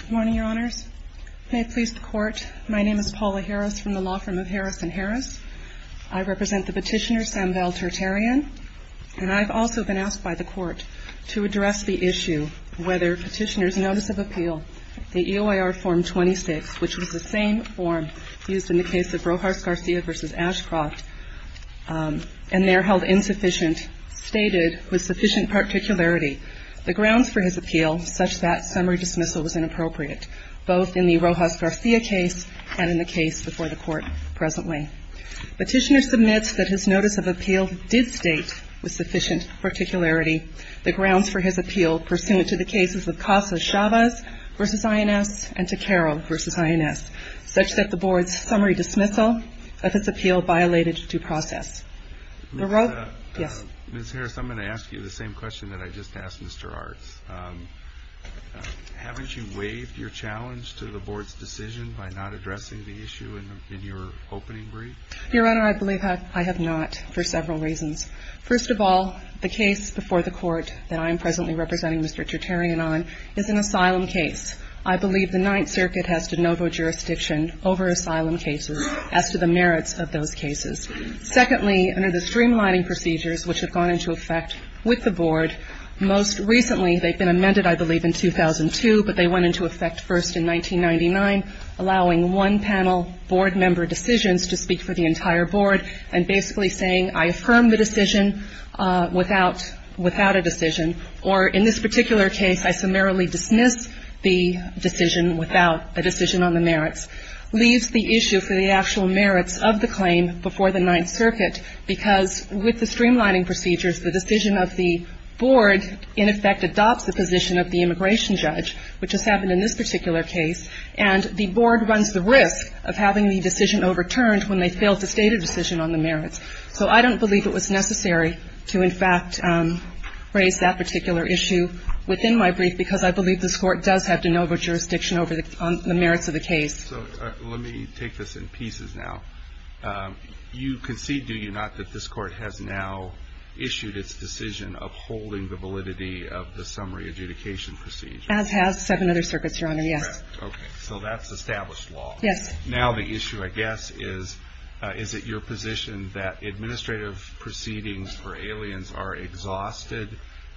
Good morning, Your Honors. May it please the Court, my name is Paula Harris from the law firm of Harris & Harris. I represent the petitioner, Samvel Terterian, and I've also been asked by the Court to address the issue whether petitioner's notice of appeal, the EOIR form 26, which was the same form used in the case of Rojas Garcia v. Ashcroft, and there held insufficient, stated with sufficient particularity, the grounds for his appeal, such that summary dismissal was inappropriate, both in the Rojas Garcia case and in the case before the Court presently. Petitioner submits that his notice of appeal did state, with sufficient particularity, the grounds for his appeal pursuant to the cases of Casas Chavez v. INS and Takero v. INS, such that the Board's summary dismissal of his appeal violated due process. Ms. Harris, I'm going to ask you the same question that I just asked Mr. Arts. Haven't you waived your challenge to the Board's decision by not addressing the issue in your opening brief? Your Honor, I believe I have not for several reasons. First of all, the case before the Court that I'm presently representing Mr. Terterian on is an asylum case. I believe the Ninth Circuit has jurisdiction over asylum cases as to the merits of those cases. Secondly, under the streamlining procedures which have gone into effect with the Board, most recently, they've been amended, I believe, in 2002, but they went into effect first in 1999, allowing one panel Board member decisions to speak for the entire Board, and basically saying, I affirm the decision without a decision, or in this particular case, I summarily dismiss the decision without a decision on the merits, leaves the issue for the actual merits of the claim before the Ninth Circuit, because with the streamlining procedures, the decision of the Board, in effect, adopts the position of the immigration judge, which has happened in this particular case, and the Board runs the risk of having the decision overturned when they fail to state a decision on the merits. So I don't believe it was necessary to, in fact, raise that particular issue within my brief, because I believe this Court does have de novo jurisdiction over the merits of the case. So let me take this in pieces now. You concede, do you not, that this Court has now issued its decision of holding the validity of the summary adjudication procedure? As has seven other circuits, Your Honor, yes. Correct. Okay. So that's established law. Yes. Now the issue, I guess, is, is it your position that administrative proceedings for aliens are exhausted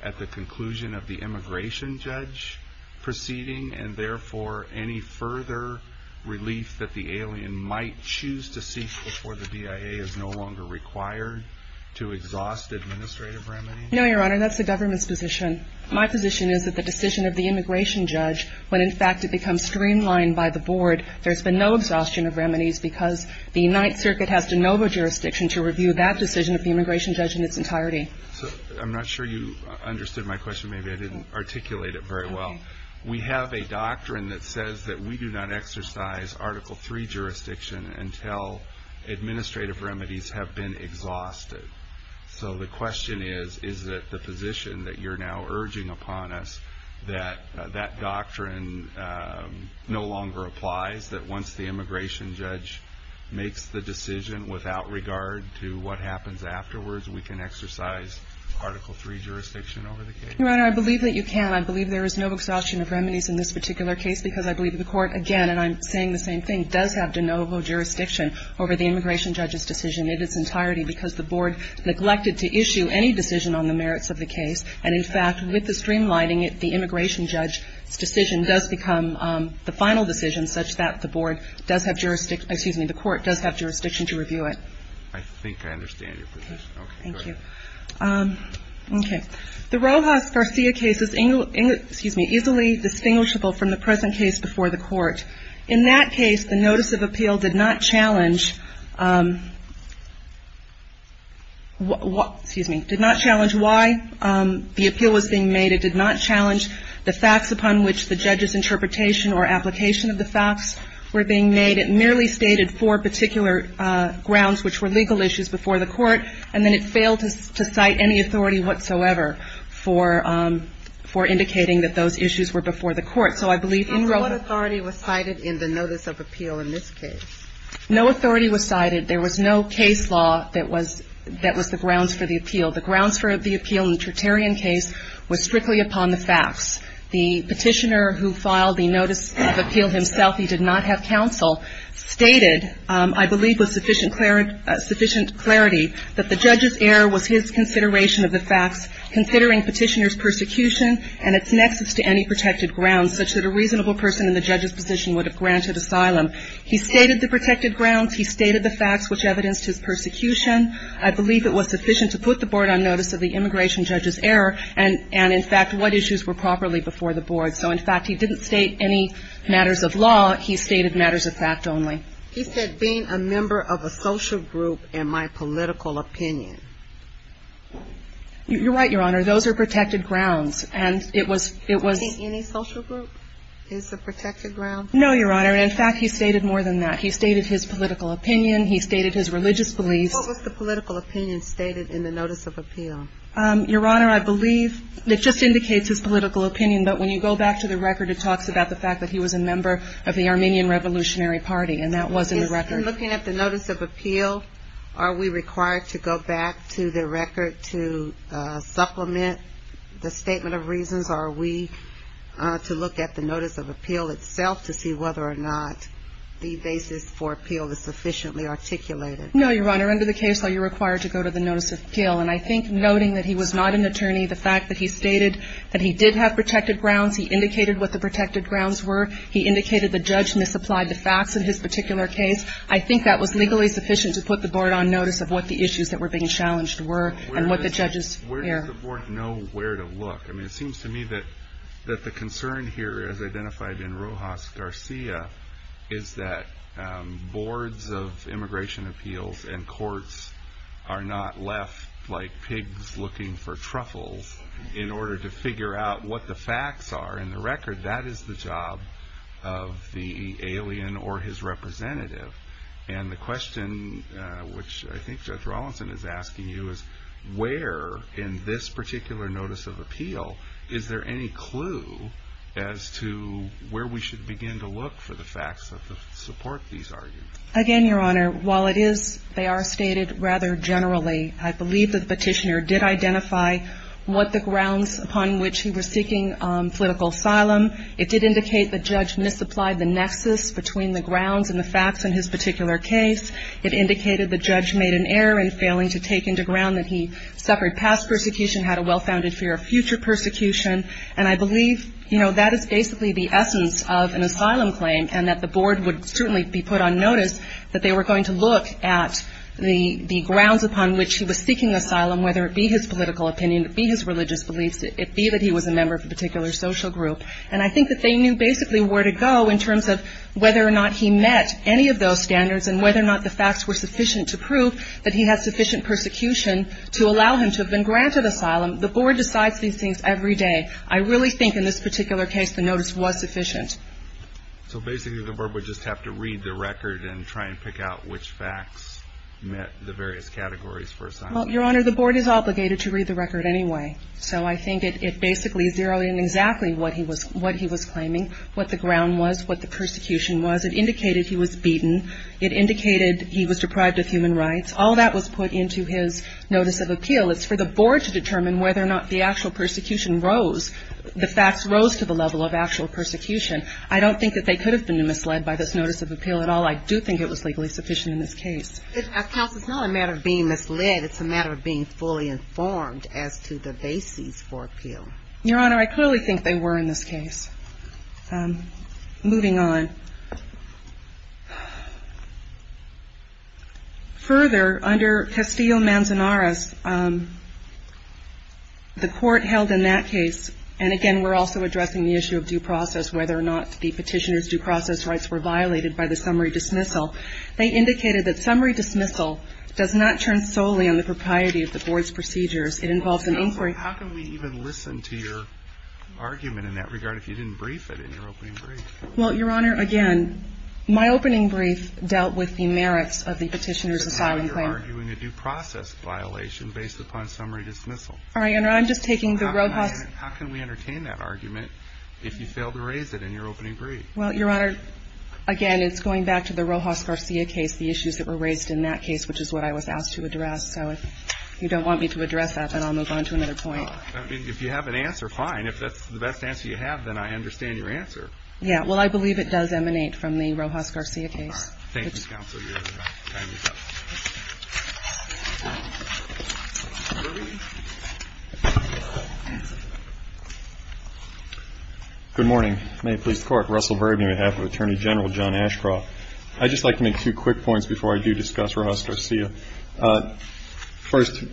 at the conclusion of the immigration judge proceeding, and therefore, any further relief that the alien might choose to seek before the BIA is no longer required to exhaust administrative remedies? No, Your Honor, that's the government's position. My position is that the decision of the immigration judge, when, in fact, it becomes streamlined by the Board, there's been no exhaustion of remedies because the Ninth Circuit has de novo jurisdiction to review that decision of the immigration judge in its entirety. So I'm not sure you understood my question. Maybe I didn't articulate it very well. We have a doctrine that says that we do not exercise Article III jurisdiction until administrative remedies have been exhausted. So the question is, is it the position that you're now urging upon us that that doctrine no longer applies, that once the immigration judge makes the decision without regard to what happens afterwards, we can exercise Article III jurisdiction over the case? Your Honor, I believe that you can. I believe there is no exhaustion of remedies in this particular case because I believe the Court, again, and I'm saying the same thing, does have de novo jurisdiction over the immigration judge's decision in its entirety because the Board neglected to issue any decision on the merits of the case. And, in fact, with the streamlining it, the immigration judge's decision does become the final decision such that the Board does have jurisdiction, excuse me, the Court does have jurisdiction to review it. I think I understand your position. Okay. Thank you. Okay. The Rojas-Garcia case is easily distinguishable from the present case before the Court. In that case, the notice of appeal did not challenge, excuse me, did not challenge why the appeal was being made. It did not challenge the facts upon which the judge's interpretation or application of the facts were being made. It merely stated four particular grounds, which were legal issues before the Court, and then it failed to cite any authority whatsoever for indicating that those issues were before the Court. So I believe in Rojas- Garcia's case, there was no authority cited in the notice of appeal in this case. No authority was cited. There was no case law that was the grounds for the appeal. The grounds for the appeal in the Tertarian case was strictly upon the facts. The Petitioner who filed the notice of appeal himself, he did not have counsel, stated, I believe with sufficient clarity, that the judge's error was his consideration of the facts, considering Petitioner's persecution and its nexus to any protected grounds, such that a reasonable person in the judge's position would have granted asylum. He stated the protected grounds. He stated the facts which evidenced his persecution. I believe it was sufficient to put the Board on notice of the immigration judge's error and, in fact, what issues were properly before the Board. So, in fact, he didn't state any matters of law. He stated matters of fact only. He said, being a member of a social group in my political opinion. You're right, Your Honor. Those are protected grounds. And it was, it was... Do you think any social group is a protected ground? No, Your Honor. In fact, he stated more than that. He stated his political opinion. He stated his religious beliefs. What was the political opinion stated in the notice of appeal? Your Honor, I believe it just indicates his political opinion, but when you go back to the record, it talks about the fact that he was a member of the Armenian Revolutionary Party, and that was in the record. In looking at the notice of appeal, are we required to go back to the record to supplement the statement of reasons? Or are we to look at the notice of appeal itself to see whether or not the basis for appeal is sufficiently articulated? No, Your Honor. Under the case law, you're required to go to the notice of appeal. And I think noting that he was not an attorney, the fact that he stated that he did have protected grounds, he indicated what the protected grounds were. He indicated the judge misapplied the facts in his particular case. I think that was legally sufficient to put the board on notice of what the issues that were being challenged were and what the judges' fear. Where does the board know where to look? It seems to me that the concern here, as identified in Rojas Garcia, is that boards of immigration appeals and courts are not left like pigs looking for truffles in order to figure out what the facts are. In the record, that is the job of the alien or his representative. And the question, which I think Judge Rawlinson is asking you, is where in this particular notice of appeal is there any clue as to where we should begin to look for the facts that support these arguments? Again, Your Honor, while it is, they are stated rather generally, I believe that the petitioner did identify what the grounds upon which he was seeking political asylum. It did indicate the judge misapplied the nexus between the grounds and the facts in his particular case. It indicated the judge made an error in failing to take into ground that he suffered past persecution, had a well-founded fear of future persecution. And I believe, you know, that is basically the essence of an asylum claim and that the board would certainly be put on notice that they were going to look at the grounds upon which he was seeking asylum, whether it be his political opinion, it be his religious beliefs, it be that he was a member of a particular social group. And I think that they knew basically where to go in terms of whether or not he met any of those standards and whether or not the facts were sufficient to prove that he had sufficient persecution to allow him to have been granted asylum. The board decides these things every day. I really think in this particular case the notice was sufficient. So basically the board would just have to read the record and try and pick out which facts met the various categories for asylum? Well, Your Honor, the board is obligated to read the record anyway. So I think it basically zeroed in exactly what he was claiming, what the ground was, what the persecution was. It indicated he was beaten. It indicated he was deprived of human rights. All that was put into his notice of appeal. It's for the board to determine whether or not the actual persecution rose, the facts rose to the level of actual persecution. I don't think that they could have been misled by this notice of appeal at all. I do think it was legally sufficient in this case. It's not a matter of being misled. It's a matter of being fully informed as to the basis for appeal. Your Honor, I clearly think they were in this case. Moving on. Further, under Castillo-Manzanares, the court held in that case, and again, we're also addressing the issue of due process, whether or not the petitioner's due process rights were violated by the summary dismissal. They indicated that summary dismissal does not turn solely on the propriety of the board's procedures. It involves an inquiry. Well, how can we even listen to your argument in that regard if you didn't brief it in your opening brief? Well, Your Honor, again, my opening brief dealt with the merits of the petitioner's asylum claim. But now you're arguing a due process violation based upon summary dismissal. All right, Your Honor, I'm just taking the Rojas. How can we entertain that argument if you failed to raise it in your opening brief? Well, Your Honor, again, it's going back to the Rojas-Garcia case, the issues that were raised in that case, which is what I was asked to address. So if you don't want me to address that, then I'll move on to another point. I mean, if you have an answer, fine. If that's the best answer you have, then I understand your answer. Yeah. Well, I believe it does emanate from the Rojas-Garcia case. All right. Thank you, Counsel. Your time is up. Good morning. May it please the Court. Russell Verben, on behalf of Attorney General John Ashcroft. I'd just like to make two quick points before I do discuss Rojas-Garcia. First,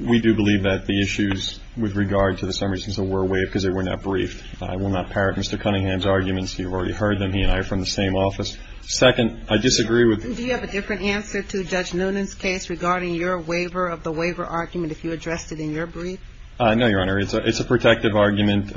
we do believe that the issues with regard to the summary dismissal were waived because they were not briefed. I will not parrot Mr. Cunningham's arguments. You've already heard them. He and I are from the same office. Second, I disagree with the ---- Do you have a different answer to Judge Noonan's case regarding your waiver of the waiver argument if you addressed it in your brief? No, Your Honor. It's a protective argument.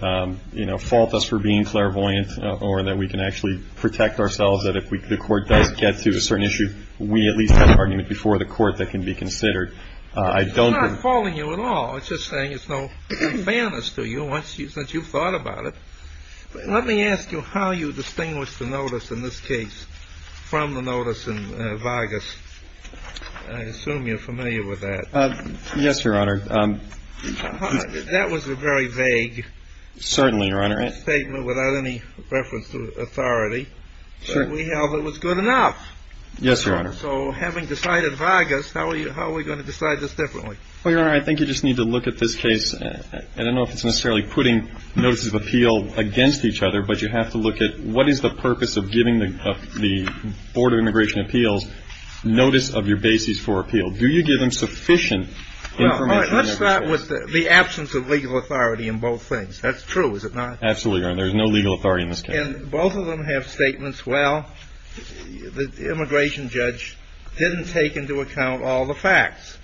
You know, fault us for being clairvoyant or that we can actually protect ourselves that if the Court does get to a certain issue, we at least have an argument before the Court that can be considered. I don't ---- It's not faulting you at all. It's just saying it's no fairness to you since you've thought about it. Let me ask you how you distinguish the notice in this case from the notice in Vargas. I assume you're familiar with that. Yes, Your Honor. That was a very vague ---- Certainly, Your Honor. ---- statement without any reference to authority. Sure. But we held it was good enough. Yes, Your Honor. So having decided Vargas, how are we going to decide this differently? Well, Your Honor, I think you just need to look at this case. I don't know if it's necessarily putting notices of appeal against each other, but you have to look at what is the purpose of giving the Board of Immigration Appeals notice of your bases for appeal. Do you give them sufficient information? Well, let's start with the absence of legal authority in both things. That's true, is it not? Absolutely, Your Honor. There's no legal authority in this case. And both of them have statements, well, the immigration judge didn't take into account all the facts.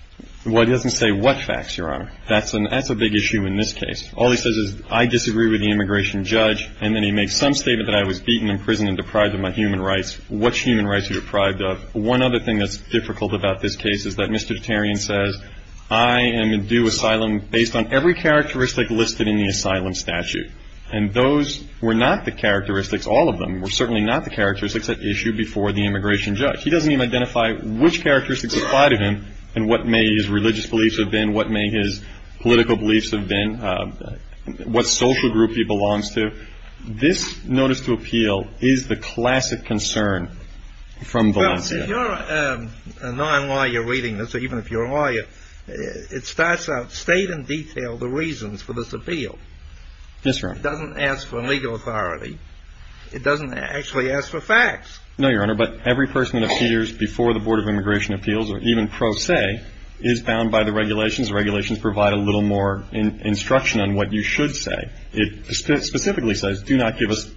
Well, he doesn't say what facts, Your Honor. That's a big issue in this case. All he says is, I disagree with the immigration judge, and then he makes some statement that I was beaten in prison and deprived of my human rights. What human rights are you deprived of? One other thing that's difficult about this case is that Mr. Tarian says, I am in due asylum based on every characteristic listed in the asylum statute. And those were not the characteristics, all of them, were certainly not the characteristics that issued before the immigration judge. He doesn't even identify which characteristics apply to him and what may his religious beliefs have been, what may his political beliefs have been, what social group he belongs to. This notice to appeal is the classic concern from Valencia. Well, if you're a non-lawyer reading this, or even if you're a lawyer, it starts out, state in detail the reasons for this appeal. Yes, Your Honor. It doesn't ask for legal authority. It doesn't actually ask for facts. No, Your Honor, but every person that appears before the Board of Immigration Appeals, or even pro se, is bound by the regulations. The regulations provide a little more instruction on what you should say. It specifically says, do not give us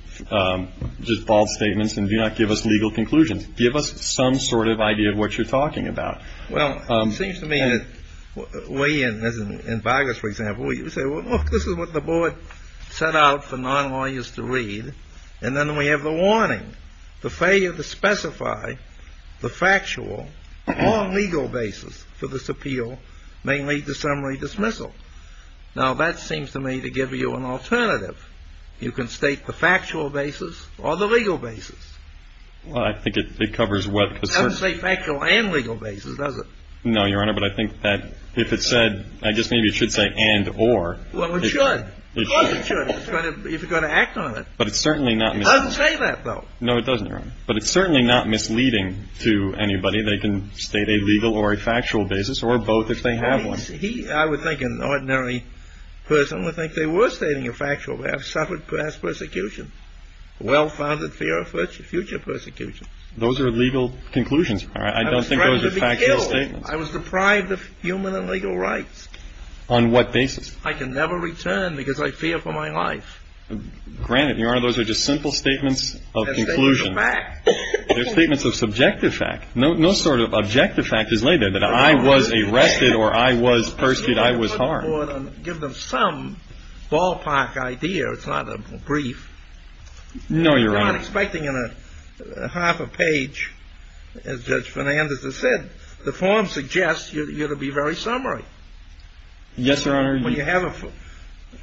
just bald statements and do not give us legal conclusions. Give us some sort of idea of what you're talking about. Well, it seems to me that we, as in Vargas, for example, we say, well, look, this is what the board set out for non-lawyers to read, and then we have the warning. The failure to specify the factual or legal basis for this appeal may lead to summary dismissal. Now, that seems to me to give you an alternative. You can state the factual basis or the legal basis. Well, I think it covers what concerns you. It doesn't say factual and legal basis, does it? No, Your Honor, but I think that if it said, I guess maybe it should say and or. Well, it should. Of course it should if you're going to act on it. But it's certainly not misleading. It doesn't say that, though. No, it doesn't, Your Honor. But it's certainly not misleading to anybody. They can state a legal or a factual basis or both if they have one. I would think an ordinary person would think they were stating a factual basis, suffered past persecution, well-founded fear of future persecution. Those are legal conclusions. I don't think those are factual statements. I was deprived of human and legal rights. On what basis? I can never return because I fear for my life. Granted, Your Honor, those are just simple statements of conclusion. They're statements of fact. They're statements of subjective fact. No sort of objective fact is laid there, that I was arrested or I was persecuted, I was harmed. Give them some ballpark idea. It's not a brief. No, Your Honor. You're not expecting in a half a page, as Judge Fernandez has said, the form suggests you're to be very summary. Yes, Your Honor. When you have a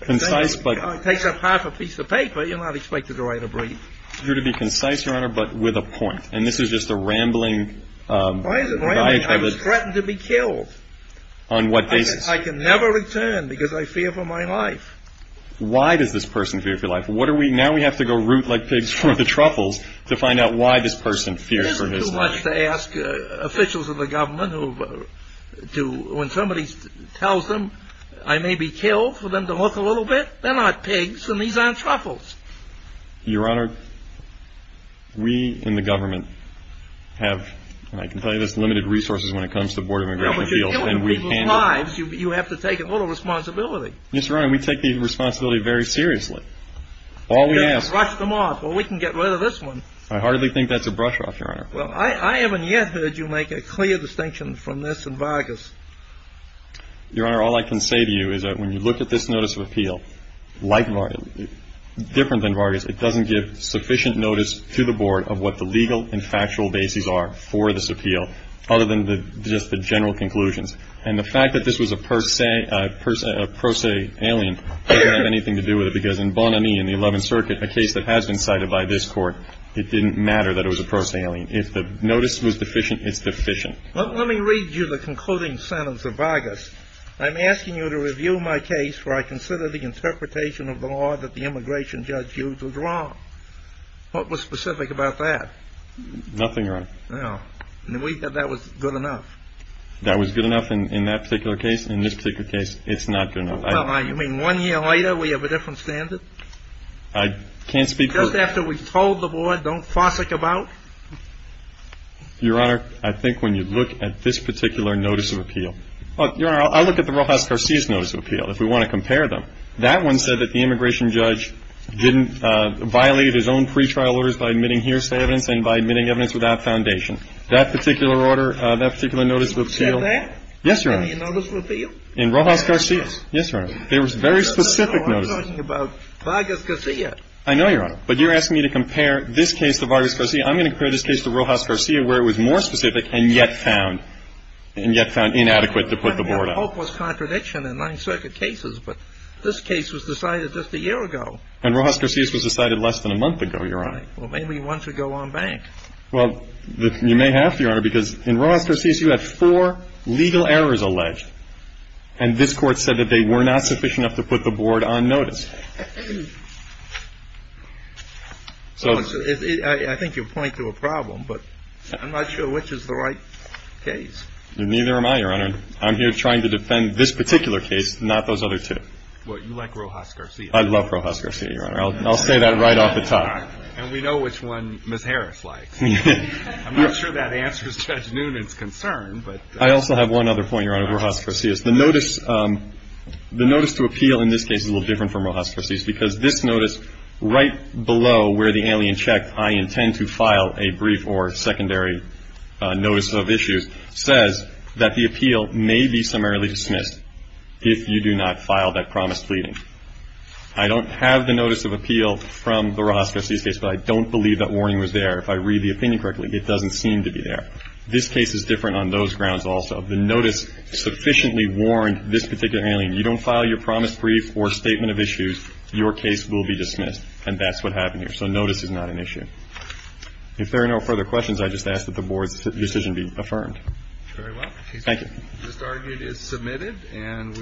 concise. It takes up half a piece of paper. You're not expected to write a brief. You're to be concise, Your Honor, but with a point. And this is just a rambling. Why is it rambling? I was threatened to be killed. On what basis? I can never return because I fear for my life. Why does this person fear for life? Now we have to go root like pigs for the truffles to find out why this person fears for his life. Officials of the government, when somebody tells them I may be killed for them to look a little bit, they're not pigs and these aren't truffles. Your Honor, we in the government have, and I can tell you this, limited resources when it comes to border immigration appeals. Now, but you're killing people's lives. You have to take a little responsibility. Yes, Your Honor, we take the responsibility very seriously. All we ask. Brush them off. Well, we can get rid of this one. I heartily think that's a brush off, Your Honor. Well, I haven't yet heard you make a clear distinction from this and Vargas. Your Honor, all I can say to you is that when you look at this notice of appeal, like Vargas, different than Vargas, it doesn't give sufficient notice to the board of what the legal and factual bases are for this appeal, other than just the general conclusions. And the fact that this was a per se alien doesn't have anything to do with it, because in Bon Ami, in the 11th Circuit, a case that has been cited by this court, it didn't matter that it was a per se alien. If the notice was deficient, it's deficient. Let me read you the concluding sentence of Vargas. I'm asking you to review my case, for I consider the interpretation of the law that the immigration judge used was wrong. What was specific about that? Nothing, Your Honor. No. We thought that was good enough. That was good enough in that particular case. In this particular case, it's not good enough. Well, you mean one year later, we have a different standard? I can't speak to that. Just after we've told the board, don't fossick about? Your Honor, I think when you look at this particular notice of appeal. Your Honor, I'll look at the Rojas Garcia's notice of appeal, if we want to compare them. That one said that the immigration judge didn't violate his own pretrial orders by admitting hearsay evidence and by admitting evidence without foundation. That particular order, that particular notice of appeal. You said that? Yes, Your Honor. In your notice of appeal? In Rojas Garcia's. Yes, Your Honor. There was a very specific notice. No, I'm talking about Vargas Garcia. I know, Your Honor. But you're asking me to compare this case to Vargas Garcia. I'm going to compare this case to Rojas Garcia, where it was more specific and yet found inadequate to put the board up. I mean, the hope was contradiction in Ninth Circuit cases, but this case was decided just a year ago. And Rojas Garcia's was decided less than a month ago, Your Honor. Well, maybe once we go on back. Well, you may have to, Your Honor, because in Rojas Garcia's, you had four legal errors alleged. And this Court said that they were not sufficient enough to put the board on notice. I think you're pointing to a problem, but I'm not sure which is the right case. Neither am I, Your Honor. I'm here trying to defend this particular case, not those other two. Well, you like Rojas Garcia. I love Rojas Garcia, Your Honor. I'll say that right off the top. And we know which one Ms. Harris likes. I'm not sure that answers Judge Noonan's concern. I also have one other point, Your Honor, on Rojas Garcia's. The notice to appeal in this case is a little different from Rojas Garcia's, because this notice right below where the alien checked, I intend to file a brief or secondary notice of issues, says that the appeal may be summarily dismissed if you do not file that promise pleading. I don't have the notice of appeal from the Rojas Garcia's case, but I don't believe that warning was there. If I read the opinion correctly, it doesn't seem to be there. This case is different on those grounds also. The notice sufficiently warned this particular alien, you don't file your promise brief or statement of issues, your case will be dismissed. And that's what happened here. So notice is not an issue. If there are no further questions, I just ask that the board's decision be affirmed. Thank you. This argument is submitted.